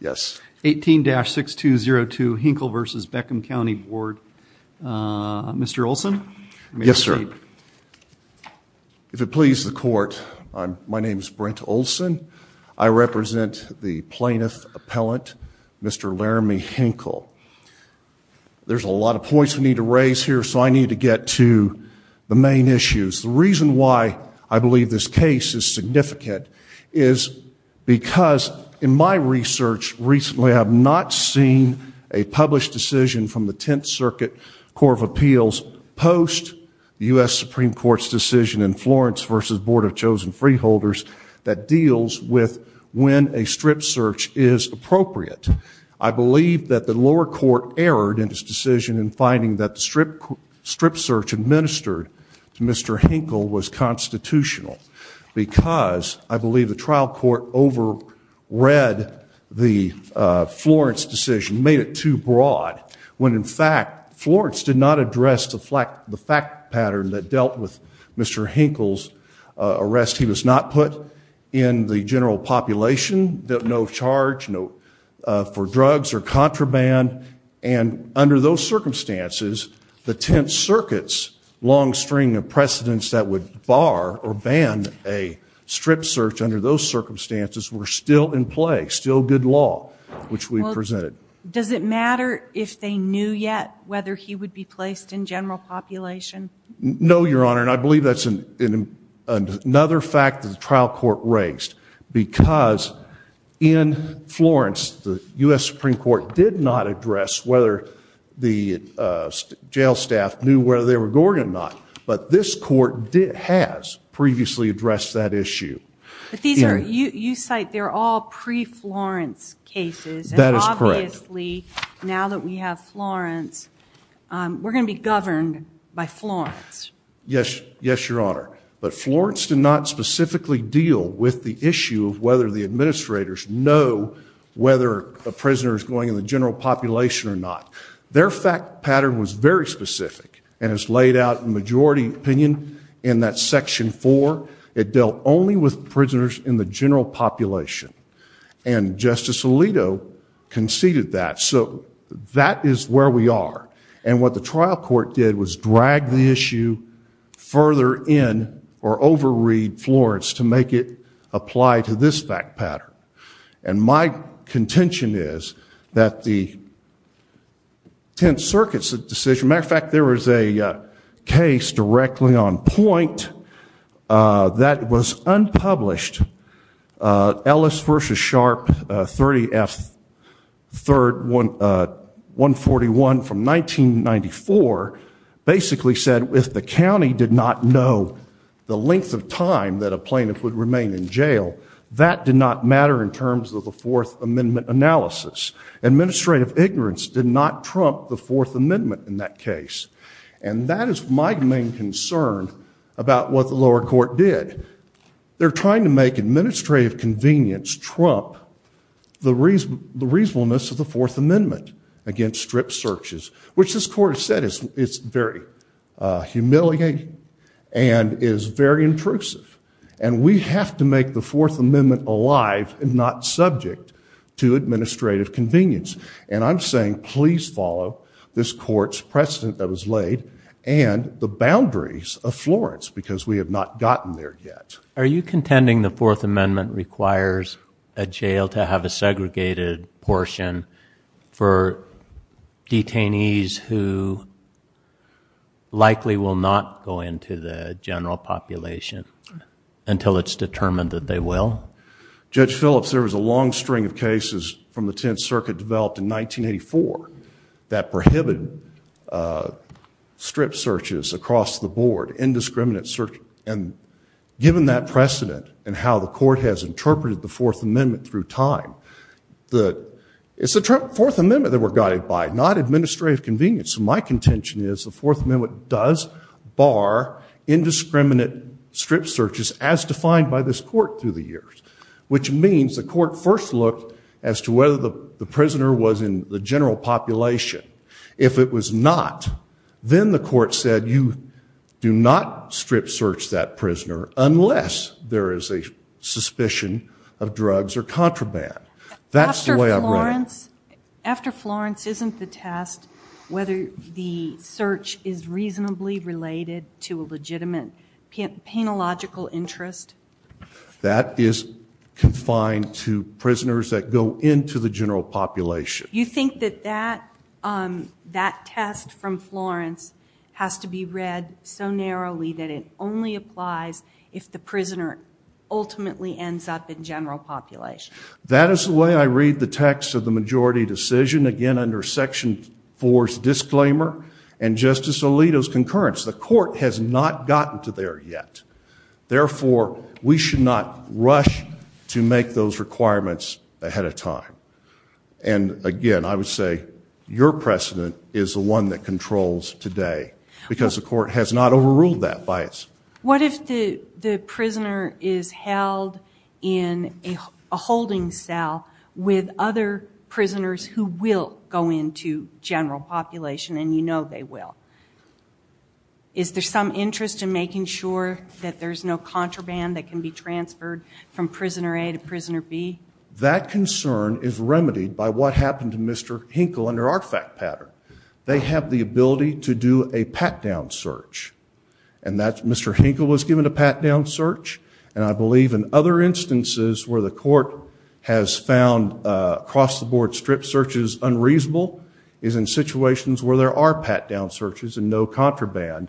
Yes. 18-6202 Hinkle v. Beckham County Board. Mr. Olson? Yes, sir. If it pleases the court, my name is Brent Olson. I represent the plaintiff appellant, Mr. Laramie Hinkle. There's a lot of points we need to raise here, so I need to get to the main issues. The reason why I believe this case is significant is because, in my research recently, I have not seen a published decision from the Tenth Circuit Court of Appeals post the U.S. Supreme Court's decision in Florence v. Board of Chosen Freeholders that deals with when a strip search is appropriate. I believe that the lower court erred in its decision in finding that the strip search administered to Mr. Hinkle was constitutional because, I believe, the trial court overread the Florence decision, made it too broad, when, in fact, Florence did not address the fact pattern that dealt with Mr. Hinkle's arrest. He was not put in the general population, no charge for drugs or contraband, and under those circumstances, the Tenth Circuit's long string of precedents that would bar or ban a strip search under those circumstances were still in play, still good law, which we've presented. Well, does it matter if they knew yet whether he would be placed in general population? No, Your Honor, and I believe that's another fact that the trial court raised because, in Florence, the U.S. Supreme Court did not address whether the jail staff knew whether they were going or not, but this court has previously addressed that issue. You cite they're all pre-Florence cases, and obviously, now that we have Florence, we're going to be governed by Florence. Yes, Your Honor, but Florence did not specifically deal with the issue of whether the administrators know whether a prisoner is going in the general population or not. Their fact pattern was very specific, and it's laid out in majority opinion in that section four. It dealt only with prisoners in the general population, and Justice Alito conceded that, so that is where we are, and what the trial court did was drag the issue further in or over-read Florence to make it apply to this fact pattern, and my contention is that the Tenth Circuit's decision, matter of fact, there was a case directly on point that was unpublished, Ellis v. Sharp, 30 F. 3rd, 141 from 1994, basically said if the county did not know the length of time that a plaintiff would remain in jail, that did not matter in terms of the Fourth Amendment analysis. Administrative ignorance did not trump the Fourth Amendment in that case, and that is my main concern about what the lower court did. They're trying to make administrative convenience trump the reasonableness of the Fourth Amendment against strip searches, which this court has said is very humiliating and is very intrusive, and we have to make the Fourth Amendment alive and not subject to administrative convenience, and I'm saying please follow this court's precedent that was laid and the boundaries of Florence because we have not gotten there yet. Are you contending the Fourth Amendment requires a jail to have a segregated portion for detainees who likely will not go into the general population until it's determined that they will? Judge Phillips, there was a long string of cases from the Tenth Circuit developed in 1984 that prohibited strip searches across the board, indiscriminate searches, and given that precedent and how the court has interpreted the Fourth Amendment through time, it's the Fourth Amendment that we're guided by, not administrative convenience, so my contention is the Fourth Amendment does bar indiscriminate strip searches as defined by this court through the years, which means the court first looked as to whether the prisoner was in the general population. If it was not, then the court said you do not strip search that prisoner unless there is a suspicion of drugs or contraband. That's the way I read it. After Florence, isn't the test whether the search is reasonably related to a legitimate panological interest? That is confined to prisoners that go into the general population. You think that that test from Florence has to be read so narrowly that it only applies if the prisoner ultimately ends up in general population? That is the way I read the text of the majority decision, again under Section 4's disclaimer and Justice Alito's concurrence. The court has not gotten to there yet, therefore we should not rush to make those requirements ahead of time. Again, I would say your precedent is the one that controls today because the court has not overruled that bias. What if the prisoner is held in a holding cell with other prisoners who will go into general population and you know they will? Is there some interest in making sure that there's no contraband that can be transferred from prisoner A to prisoner B? That concern is remedied by what happened to Mr. Hinkle under our fact pattern. They have the ability to do a pat-down search and Mr. Hinkle was given a pat-down search and I believe in other instances where the court has found across-the-board strip searches unreasonable is in situations where there are pat-down searches and no contraband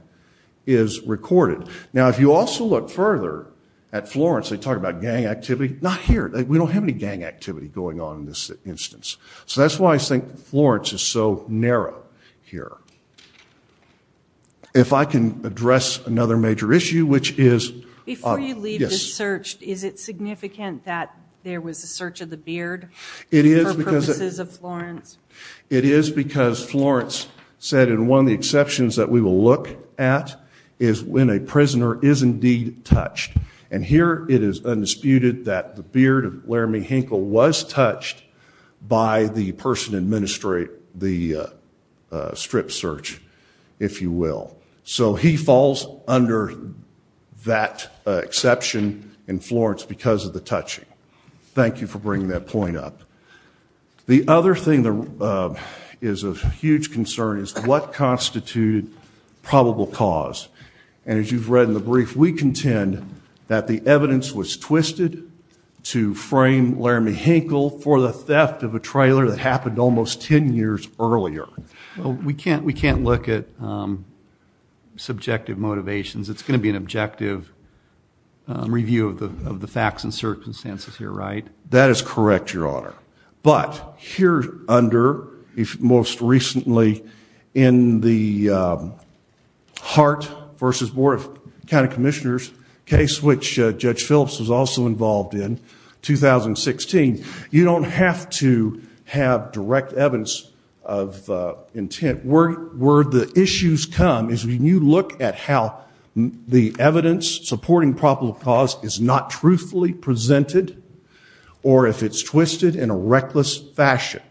is recorded. Now if you also look further at Florence, they talk about gang activity. Not here. We don't have any gang activity going on in this instance. So that's why I think Florence is so narrow here. If I can address another major issue, which is... Before you leave the search, is it significant that there was a search of the beard for purposes of Florence? It is because Florence said and one of the exceptions that we will look at is when a prisoner is indeed touched and here it is undisputed that the beard of Laramie Hinkle was touched by the person administering the strip search, if you will. So he falls under that exception in Florence because of the touching. Thank you for bringing that point up. The other thing that is of huge concern is what constituted probable cause and as you've read in the brief, we contend that the evidence was twisted to frame Laramie Hinkle for the theft of a trailer that happened almost 10 years earlier. We can't look at subjective motivations. It's going to be an objective review of the facts and circumstances here, right? That is correct, Your Honor, but here under, if most recently in the Hart versus Board of County Commissioners case, which Judge Phillips was also involved in 2016, you don't have to have direct evidence of intent. Where the issues come is when you look at how the evidence supporting probable cause is not truthfully presented or if it's twisted in a reckless fashion.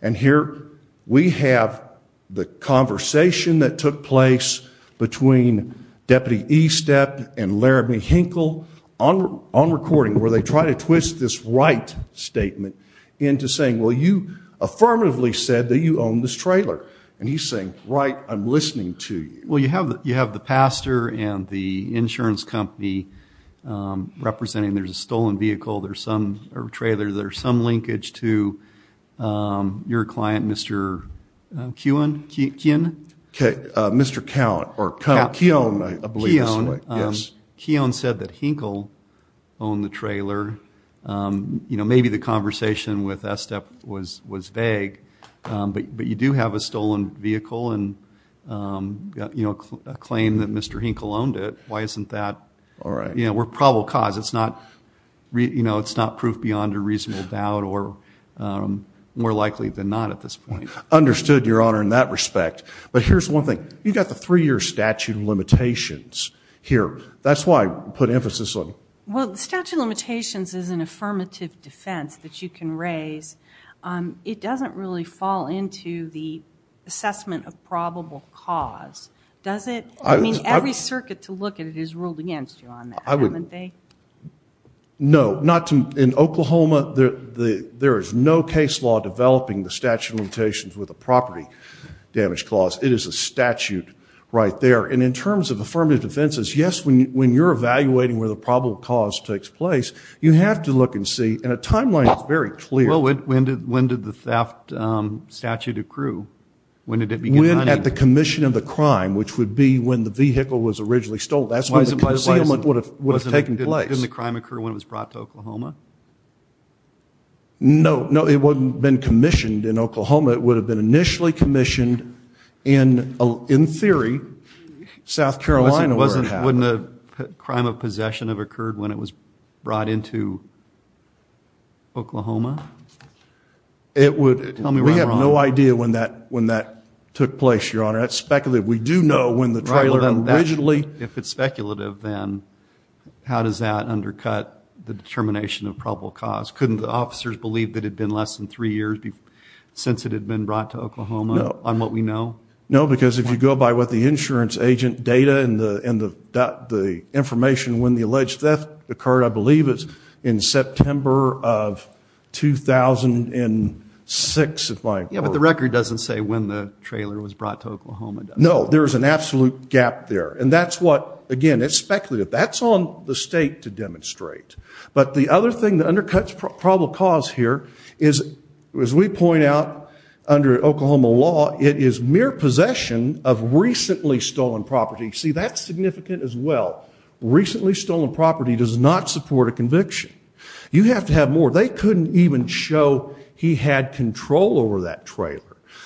And here we have the conversation that took place between Deputy Estep and Laramie Hinkle on recording where they try to twist this right statement into saying, well, you affirmatively said that you own this trailer and he's saying, right, I'm listening to you. Well, you have the pastor and the insurance company representing, there's a stolen vehicle, there's some trailer, there's some linkage to your client, Mr. Keown. Mr. Count or Count Keown, I believe this is the right, yes. Keown said that Hinkle owned the trailer. Maybe the conversation with Estep was vague, but you do have a stolen vehicle and a claim that Mr. Hinkle owned it. Why isn't that? All right. We're probable cause. It's not proof beyond a reasonable doubt or more likely than not at this point. Understood, Your Honor, in that respect. But here's one thing. You've got the three-year statute of limitations here. That's why I put emphasis on. Well, the statute of limitations is an affirmative defense that you can raise. It doesn't really fall into the assessment of probable cause, does it? I mean, every circuit to look at it is ruled against you on that, haven't they? No, not in Oklahoma. There is no case law developing the statute of limitations with a property damage clause. It is a statute right there. In terms of affirmative defenses, yes, when you're evaluating where the probable cause takes place, you have to look and see, and a timeline is very clear. When did the theft statute accrue? When did it begin hunting? When at the commission of the crime, which would be when the vehicle was originally stolen. That's when the concealment would have taken place. Didn't the crime occur when it was brought to Oklahoma? No. No, it wouldn't have been commissioned in Oklahoma. It would have been initially commissioned in theory, South Carolina where it happened. Wouldn't a crime of possession have occurred when it was brought into Oklahoma? It would. Tell me where I'm wrong. We have no idea when that took place, Your Honor. That's speculative. We do know when the trailer originally- If it's speculative, then how does that undercut the determination of probable cause? Couldn't the officers believe that it had been less than three years since it had been brought to Oklahoma on what we know? No, because if you go by what the insurance agent data and the information when the alleged theft occurred, I believe it's in September of 2006, if I'm correct. Yeah, but the record doesn't say when the trailer was brought to Oklahoma. No, there's an absolute gap there. That's what, again, it's speculative. That's on the state to demonstrate. But the other thing that undercuts probable cause here is, as we point out under Oklahoma law, it is mere possession of recently stolen property. See, that's significant as well. Recently stolen property does not support a conviction. You have to have more. They couldn't even show he had control over that trailer.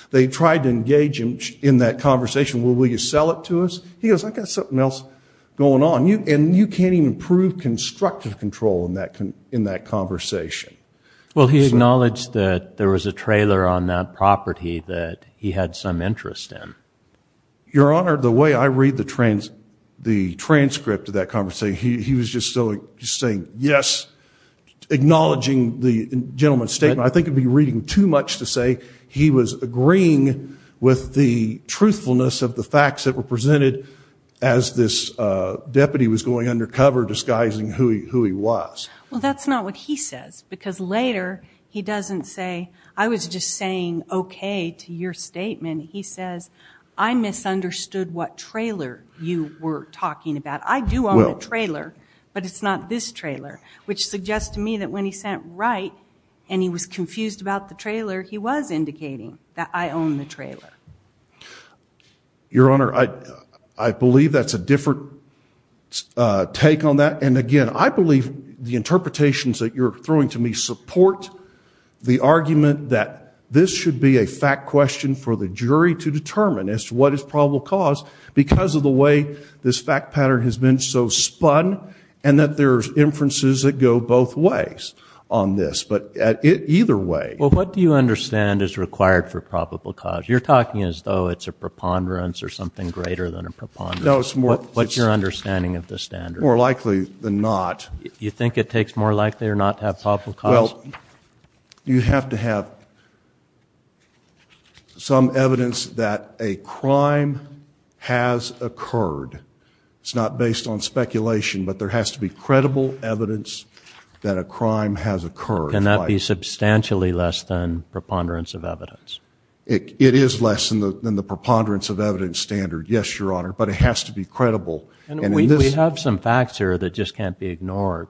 They tried to engage him in that conversation, well, will you sell it to us? He goes, I've got something else going on. You can't even prove constructive control in that conversation. Well, he acknowledged that there was a trailer on that property that he had some interest in. Your Honor, the way I read the transcript of that conversation, he was just saying yes, acknowledging the gentleman's statement. I think he'd be reading too much to say he was agreeing with the truthfulness of the he was going undercover disguising who he was. Well, that's not what he says because later he doesn't say, I was just saying okay to your statement. He says, I misunderstood what trailer you were talking about. I do own a trailer, but it's not this trailer, which suggests to me that when he sent right and he was confused about the trailer, he was indicating that I own the trailer. Your Honor, I believe that's a different take on that. And again, I believe the interpretations that you're throwing to me support the argument that this should be a fact question for the jury to determine as to what is probable cause because of the way this fact pattern has been so spun and that there's inferences that go both ways on this. But either way. Well, what do you understand is required for probable cause? You're talking as though it's a preponderance or something greater than a preponderance. What's your understanding of the standard? More likely than not. You think it takes more likely or not to have probable cause? Well, you have to have some evidence that a crime has occurred. It's not based on speculation, but there has to be credible evidence that a crime has occurred. Can that be substantially less than preponderance of evidence? It is less than the preponderance of evidence standard, yes, Your Honor, but it has to be credible. And we have some facts here that just can't be ignored.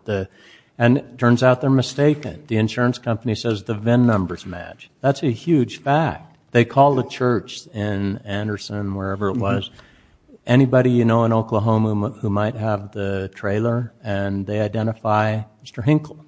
And it turns out they're mistaken. The insurance company says the VIN numbers match. That's a huge fact. They call the church in Anderson, wherever it was, anybody you know in Oklahoma who might have the trailer and they identify Mr. Hinkle.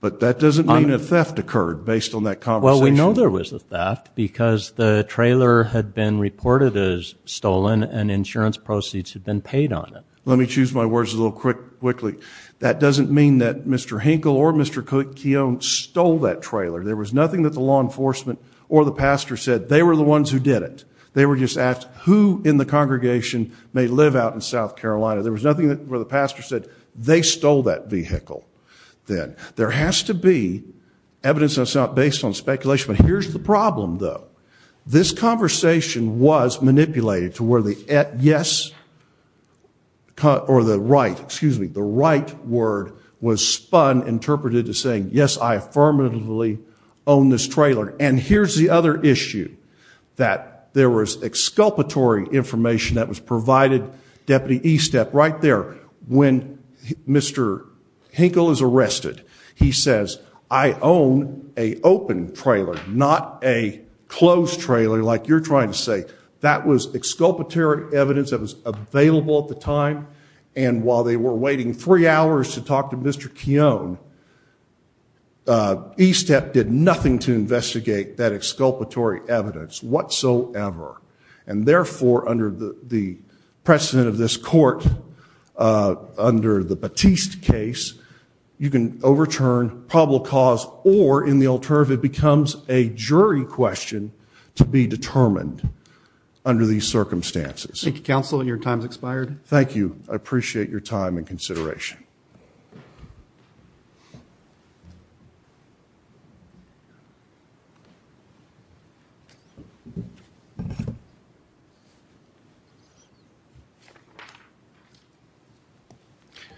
But that doesn't mean a theft occurred based on that conversation. Well, we know there was a theft because the trailer had been reported as stolen and insurance proceeds had been paid on it. Let me choose my words a little quickly. That doesn't mean that Mr. Hinkle or Mr. Keown stole that trailer. There was nothing that the law enforcement or the pastor said they were the ones who did it. They were just asked who in the congregation may live out in South Carolina. There was nothing where the pastor said they stole that vehicle then. There has to be evidence that's not based on speculation, but here's the problem, though. This conversation was manipulated to where the yes or the right, excuse me, the right word was spun, interpreted as saying, yes, I affirmatively own this trailer. And here's the other issue, that there was exculpatory information that was provided Deputy Estep right there when Mr. Hinkle is arrested. He says, I own a open trailer, not a closed trailer like you're trying to say. That was exculpatory evidence that was available at the time. And while they were waiting three hours to talk to Mr. Keown, Estep did nothing to investigate that exculpatory evidence whatsoever. And therefore, under the precedent of this court, under the Batiste case, you can overturn probable cause or in the alternative, it becomes a jury question to be determined under these circumstances. Thank you, counsel. Your time's expired. Thank you. I appreciate your time and consideration.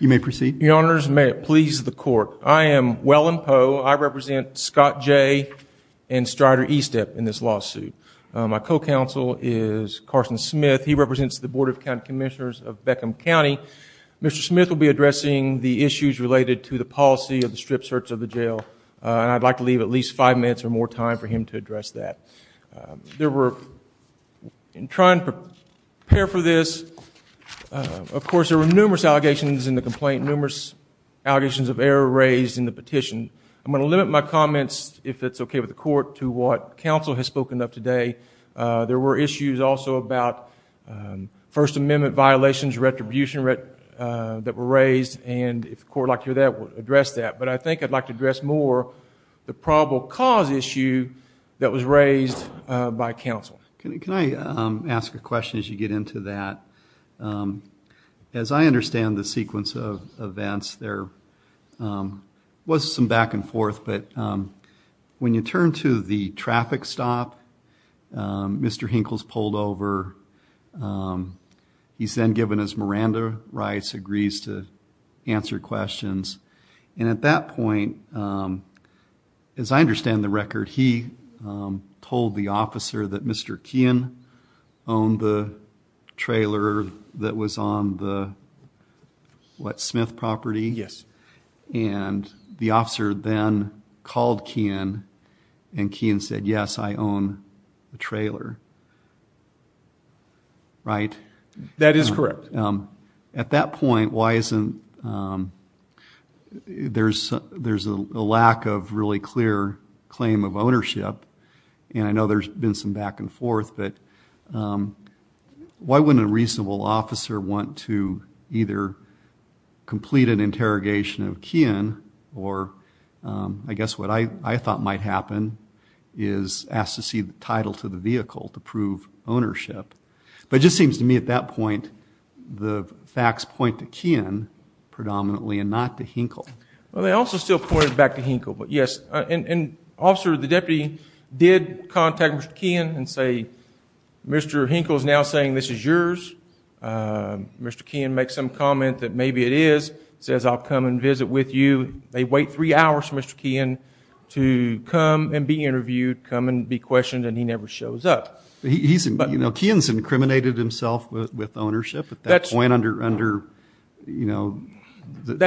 You may proceed. Your Honors, may it please the court. I am Wellen Poe. I represent Scott Jay and Strider Estep in this lawsuit. My co-counsel is Carson Smith. He represents the Board of County Commissioners of Beckham County. Mr. Smith will be addressing the issues related to the policy of the strip search of the jail. I'd like to leave at least five minutes or more time for him to address that. There were, in trying to prepare for this, of course, there were numerous allegations in the complaint, numerous allegations of error raised in the petition. I'm going to limit my comments, if it's okay with the court, to what counsel has spoken of today. There were issues also about First Amendment violations, retribution that were raised, and if the court would like to hear that, we'll address that. I think I'd like to address more the probable cause issue that was raised by counsel. Can I ask a question as you get into that? As I understand the sequence of events, there was some back and forth, but when you turn to the traffic stop, Mr. Hinkle's pulled over, he's then given his Miranda rights, agrees to answer questions, and at that point, as I understand the record, he told the officer that Mr. Keehan owned the trailer that was on the Smith property, and the officer then called Keehan, and Keehan said, yes, I own the trailer, right? That is correct. At that point, there's a lack of really clear claim of ownership, and I know there's been some back and forth, but why wouldn't a reasonable officer want to either complete an interrogation of Keehan, or I guess what I thought might happen is ask to see the title to the vehicle to prove ownership. But it just seems to me at that point, the facts point to Keehan predominantly and not to Hinkle. Well, they also still pointed back to Hinkle, but yes, and officer, the deputy did contact Mr. Keehan and say, Mr. Hinkle is now saying this is yours. Mr. Keehan makes some comment that maybe it is, says I'll come and visit with you. They wait three hours for Mr. Keehan to come and be interviewed, come and be questioned, and he never shows up. Keehan's incriminated himself with ownership at that point under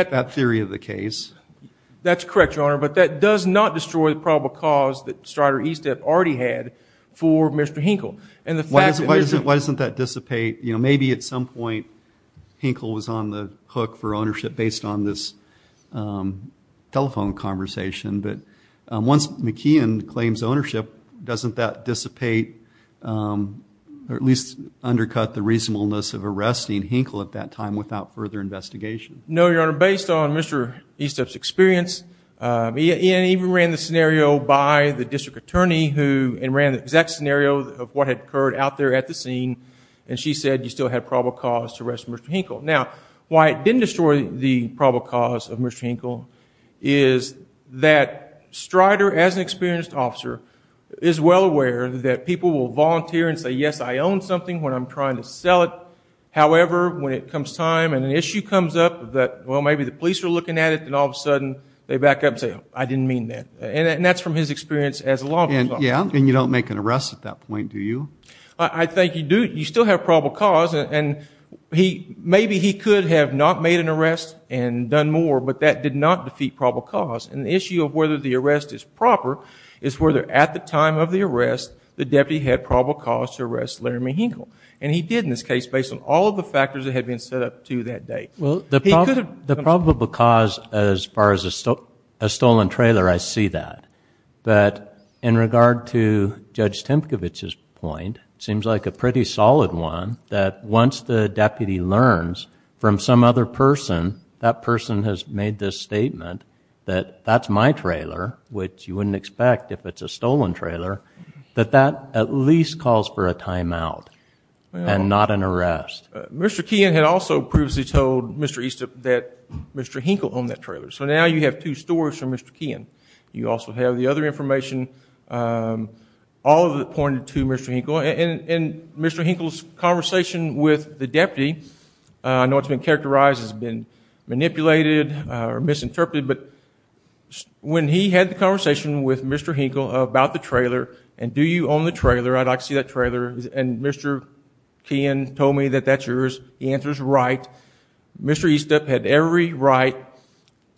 that theory of the case. That's correct, Your Honor, but that does not destroy the probable cause that Strider East had already had for Mr. Hinkle. Why doesn't that dissipate? Maybe at some point, Hinkle was on the hook for ownership based on this telephone conversation, but once McKeon claims ownership, doesn't that dissipate or at least undercut the reasonableness of arresting Hinkle at that time without further investigation? No, Your Honor, based on Mr. East's experience, he even ran the scenario by the district attorney and ran the exact scenario of what had occurred out there at the scene, and she said you still had probable cause to arrest Mr. Hinkle. Now, why it didn't destroy the probable cause of Mr. Hinkle is that Strider, as an experienced officer, is well aware that people will volunteer and say, yes, I own something when I'm trying to sell it. However, when it comes time and an issue comes up that, well, maybe the police are looking at it, then all of a sudden they back up and say, I didn't mean that, and that's from his experience as a law enforcement officer. Yeah, and you don't make an arrest at that point, do you? I think you do. You still have probable cause, and maybe he could have not made an arrest and done more, but that did not defeat probable cause, and the issue of whether the arrest is proper is whether at the time of the arrest the deputy had probable cause to arrest Larry Hinkle, and he did in this case based on all of the factors that had been set up to that date. The probable cause as far as a stolen trailer, I see that, but in regard to Judge Tempkowicz's point, it seems like a pretty solid one that once the deputy learns from some other person that person has made this statement that that's my trailer, which you wouldn't expect if it's a stolen trailer, that that at least calls for a timeout and not an arrest. Mr. Keehan had also previously told Mr. Eastup that Mr. Hinkle owned that trailer, so now you have two stories from Mr. Keehan. You also have the other information, all of it pointed to Mr. Hinkle, and Mr. Hinkle's conversation with the deputy, I know it's been characterized, it's been manipulated or misinterpreted, but when he had the conversation with Mr. Hinkle about the trailer, and do you own the trailer, I'd like to see that trailer, and Mr. Keehan told me that that's yours, the answer's right, Mr. Eastup had every right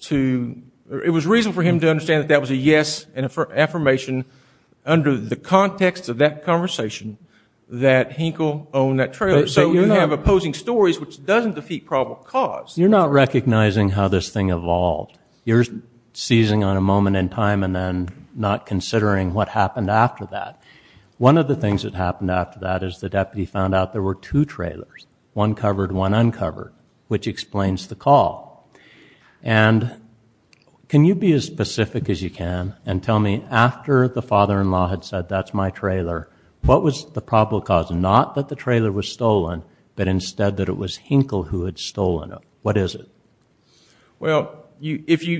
to... It was reason for him to understand that that was a yes, an affirmation under the context of that conversation that Hinkle owned that trailer, so you have opposing stories which doesn't defeat probable cause. You're not recognizing how this thing evolved. You're seizing on a moment in time and then not considering what happened after that. One of the things that happened after that is the deputy found out there were two trailers, one covered, one uncovered, which explains the call. And can you be as specific as you can and tell me after the father-in-law had said that's my trailer, what was the probable cause? Not that the trailer was stolen, but instead that it was Hinkle who had stolen it. What is it? Well, if you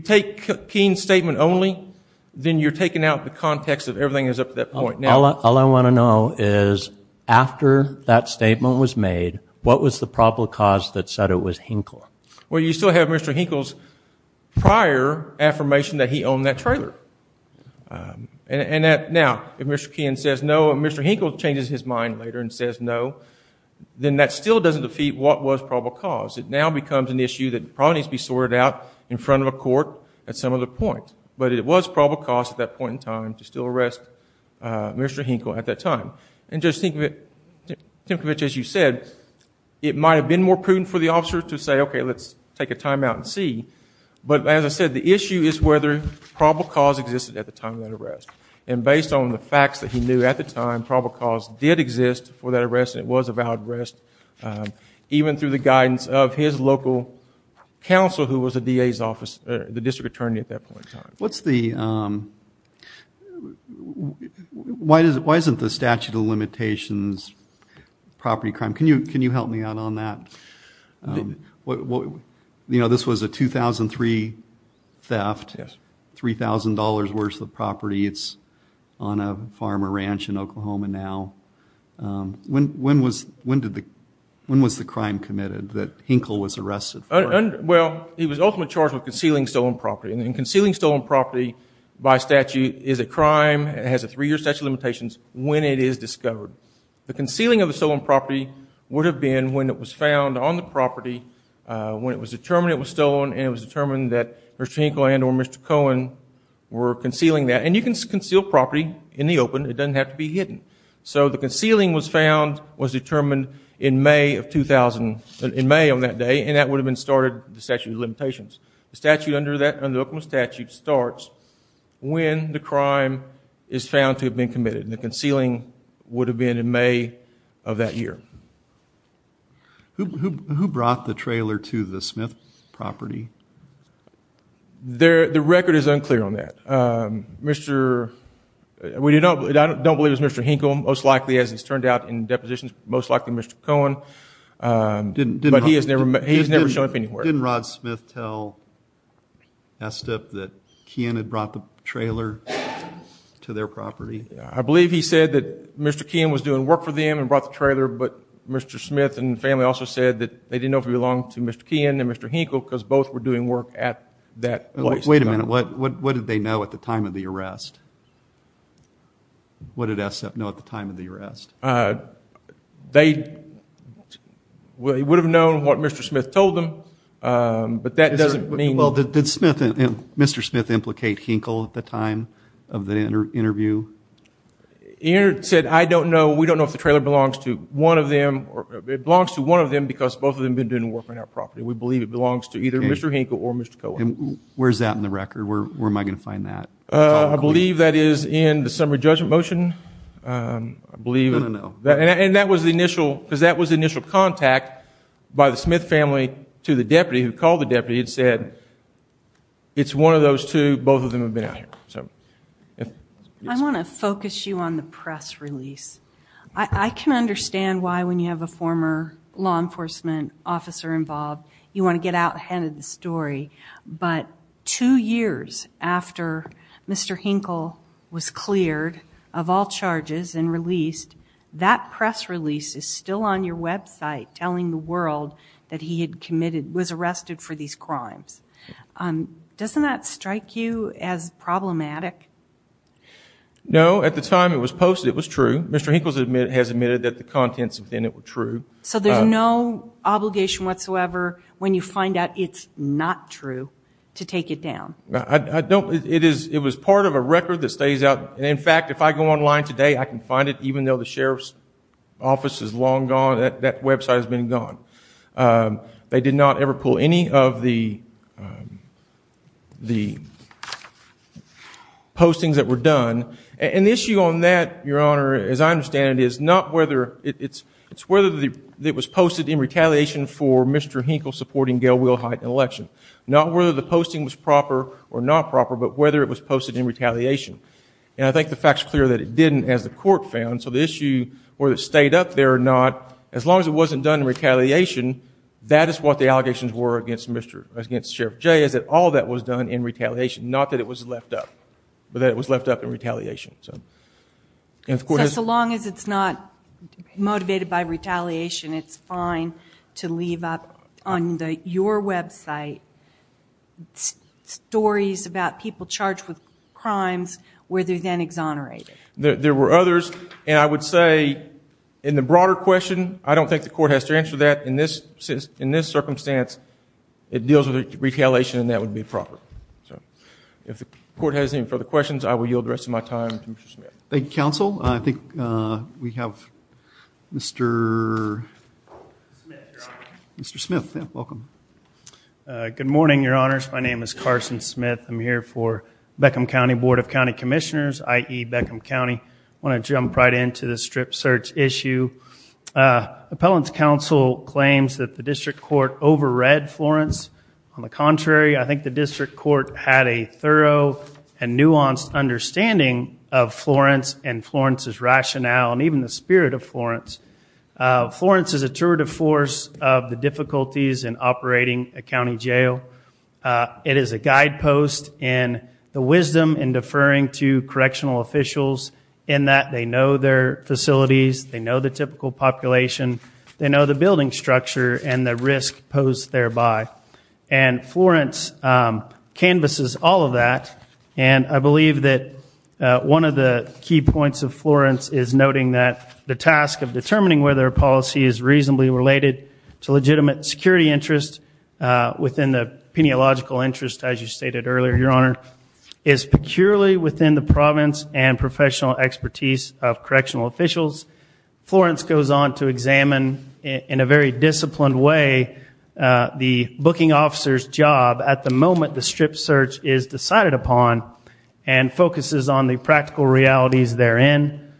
take Keehan's statement only, then you're taking out the context of everything that's up to that point. All I want to know is after that statement was made, what was the probable cause that said it was Hinkle? Well, you still have Mr. Hinkle's prior affirmation that he owned that trailer. And now, if Mr. Keehan says no and Mr. Hinkle changes his mind later and says no, then that still doesn't defeat what was probable cause. It now becomes an issue that probably needs to be sorted out in front of a court at some other point. But it was probable cause at that point in time to still arrest Mr. Hinkle at that time. And Judge Tinkovich, as you said, it might have been more prudent for the officer to say, okay, let's take a timeout and see. But as I said, the issue is whether probable cause existed at the time of that arrest. And based on the facts that he knew at the time, probable cause did exist for that arrest and it was a valid arrest, even through the guidance of his local counsel who was the DA's office, the district attorney at that point in time. What's the, why isn't the statute of limitations property crime? Can you help me out on that? You know, this was a 2003 theft, $3,000 worth of property. It's on a farm or ranch in Oklahoma now. When was the crime committed that Hinkle was arrested for? Well, he was ultimately charged with concealing stolen property. And concealing stolen property by statute is a crime, has a three-year statute of limitations when it is discovered. The concealing of the stolen property would have been when it was found on the property, when it was determined it was stolen and it was determined that Mr. Hinkle and or Mr. Cohen were concealing that. And you can conceal property in the open, it doesn't have to be hidden. So the concealing was found, was determined in May of 2000, in May of that day and that would have been started, the statute of limitations. The statute under that, under the Oklahoma statute starts when the crime is found to have been committed and the concealing would have been in May of that year. Who brought the trailer to the Smith property? The record is unclear on that. Mr., we don't believe it was Mr. Hinkle, most likely as it's turned out in depositions, most likely Mr. Cohen. But he has never, he has never shown up anywhere. Didn't Rod Smith tell ESSEP that Keehan had brought the trailer to their property? I believe he said that Mr. Keehan was doing work for them and brought the trailer, but Mr. Smith and the family also said that they didn't know if it belonged to Mr. Keehan and Mr. Hinkle because both were doing work at that place. Wait a minute, what did they know at the time of the arrest? They would have known what Mr. Smith told them, but that doesn't mean... Well, did Mr. Smith implicate Hinkle at the time of the interview? He said, I don't know, we don't know if the trailer belongs to one of them, it belongs to one of them because both of them have been doing work on our property. We believe it belongs to either Mr. Hinkle or Mr. Cohen. Where's that in the record? Where am I going to find that? I believe that is in the summary judgment motion. No, no, no. And that was the initial, because that was the initial contact by the Smith family to the deputy who called the deputy and said, it's one of those two, both of them have been out here. I want to focus you on the press release. I can understand why when you have a former law enforcement officer involved, you want to get out ahead of the story, but two years after Mr. Hinkle was cleared of all charges and released, that press release is still on your website telling the world that he had committed, was arrested for these crimes. Doesn't that strike you as problematic? No, at the time it was posted, it was true. Mr. Hinkle has admitted that the contents within it were true. So there's no obligation whatsoever when you find out it's not true to take it down. I don't, it is, it was part of a record that stays out. And in fact, if I go online today, I can find it even though the Sheriff's office is long gone, that website has been gone. They did not ever pull any of the, the postings that were done. And the issue on that, your honor, as I understand it is not whether it's, it's whether the it was posted in retaliation for Mr. Hinkle supporting Gail Wilhite in the election. Not whether the posting was proper or not proper, but whether it was posted in retaliation. And I think the fact's clear that it didn't as the court found. So the issue, whether it stayed up there or not, as long as it wasn't done in retaliation, that is what the allegations were against Mr., against Sheriff Jay, is that all that was done in retaliation. Not that it was left up, but that it was left up in retaliation. So, so long as it's not motivated by retaliation, it's fine to leave up on your website, stories about people charged with crimes where they're then exonerated. There were others, and I would say in the broader question, I don't think the court has to answer that in this, in this circumstance, it deals with retaliation and that would be proper. So, if the court has any further questions, I will yield the rest of my time to Mr. Smith. Thank you, counsel. I think we have Mr. Smith here. Mr. Smith. Yeah, welcome. Good morning, your honors. My name is Carson Smith. I'm here for Beckham County Board of County Commissioners, i.e. Beckham County. I want to jump right into the strip search issue. Appellant's counsel claims that the district court overread Florence, on the contrary, I think the district court had a thorough and nuanced understanding of Florence and Florence's rationale and even the spirit of Florence. Florence is a tour de force of the difficulties in operating a county jail. It is a guidepost in the wisdom in deferring to correctional officials in that they know their facilities, they know the typical population, they know the building structure and the risk posed thereby. And Florence canvasses all of that. And I believe that one of the key points of Florence is noting that the task of determining whether a policy is reasonably related to legitimate security interest within the peniological interest as you stated earlier, your honor, is peculiarly within the province and professional expertise of correctional officials. Florence goes on to examine in a very disciplined way the booking officer's job at the moment the strip search is decided upon and focuses on the practical realities therein.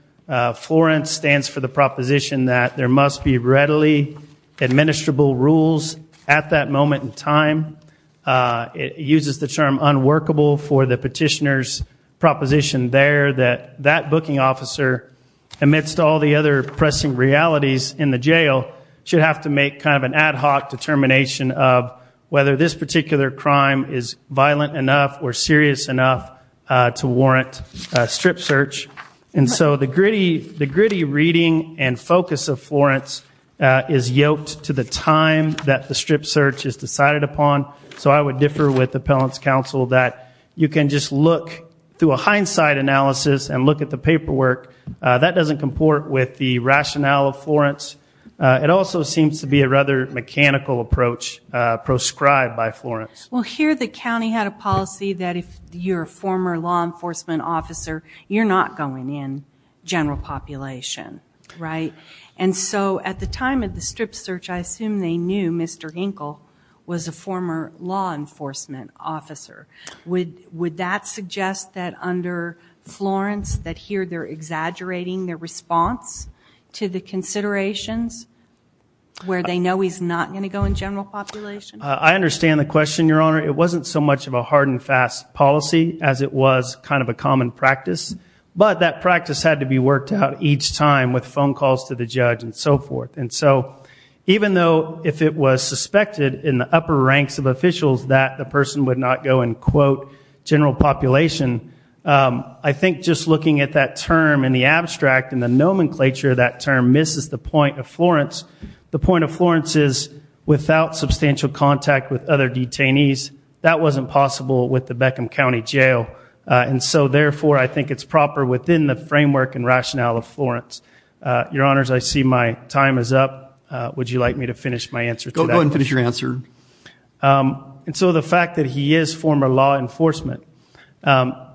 Florence stands for the proposition that there must be readily administrable rules at that moment in time. It uses the term unworkable for the petitioner's proposition there that that booking officer amidst all the other pressing realities in the jail should have to make kind of an ad hoc determination of whether this particular crime is violent enough or serious enough to warrant a strip search. And so the gritty reading and focus of Florence is yoked to the time that the strip search is decided upon. So I would differ with the appellant's counsel that you can just look through a hindsight analysis and look at the paperwork. That doesn't comport with the rationale of Florence. It also seems to be a rather mechanical approach proscribed by Florence. Well here the county had a policy that if you're a former law enforcement officer, you're not going in general population, right? And so at the time of the strip search, I assume they knew Mr. Hinkle was a former law enforcement officer. Would that suggest that under Florence that here they're exaggerating their response to the considerations where they know he's not going to go in general population? I understand the question, Your Honor. It wasn't so much of a hard and fast policy as it was kind of a common practice. But that practice had to be worked out each time with phone calls to the judge and so forth. And so even though if it was suspected in the upper ranks of officials that the person would not go in, quote, general population, I think just looking at that term in the abstract and the nomenclature of that term misses the point of Florence. The point of Florence is without substantial contact with other detainees, that wasn't possible with the Beckham County Jail. And so therefore I think it's proper within the framework and rationale of Florence. Your Honors, I see my time is up. Would you like me to finish my answer today? Go ahead and finish your answer. And so the fact that he is former law enforcement,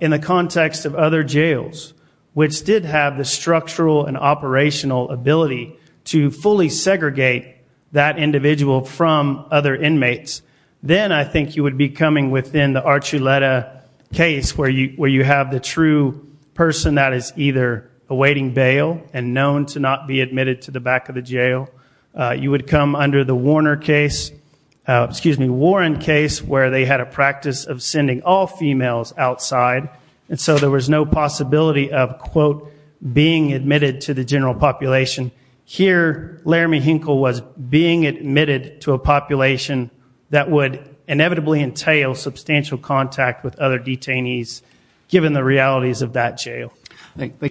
in the context of other jails, which did have the structural and operational ability to fully segregate that individual from other inmates, then I think you would be coming within the Archuleta case where you have the true person that is either awaiting bail and known to not be admitted to the back of the jail. You would come under the Warner case, excuse me, Warren case, where they had a practice of sending all females outside. And so there was no possibility of, quote, being admitted to the general population. Here, Laramie Hinkle was being admitted to a population that would inevitably entail substantial contact with other detainees, given the realities of that jail.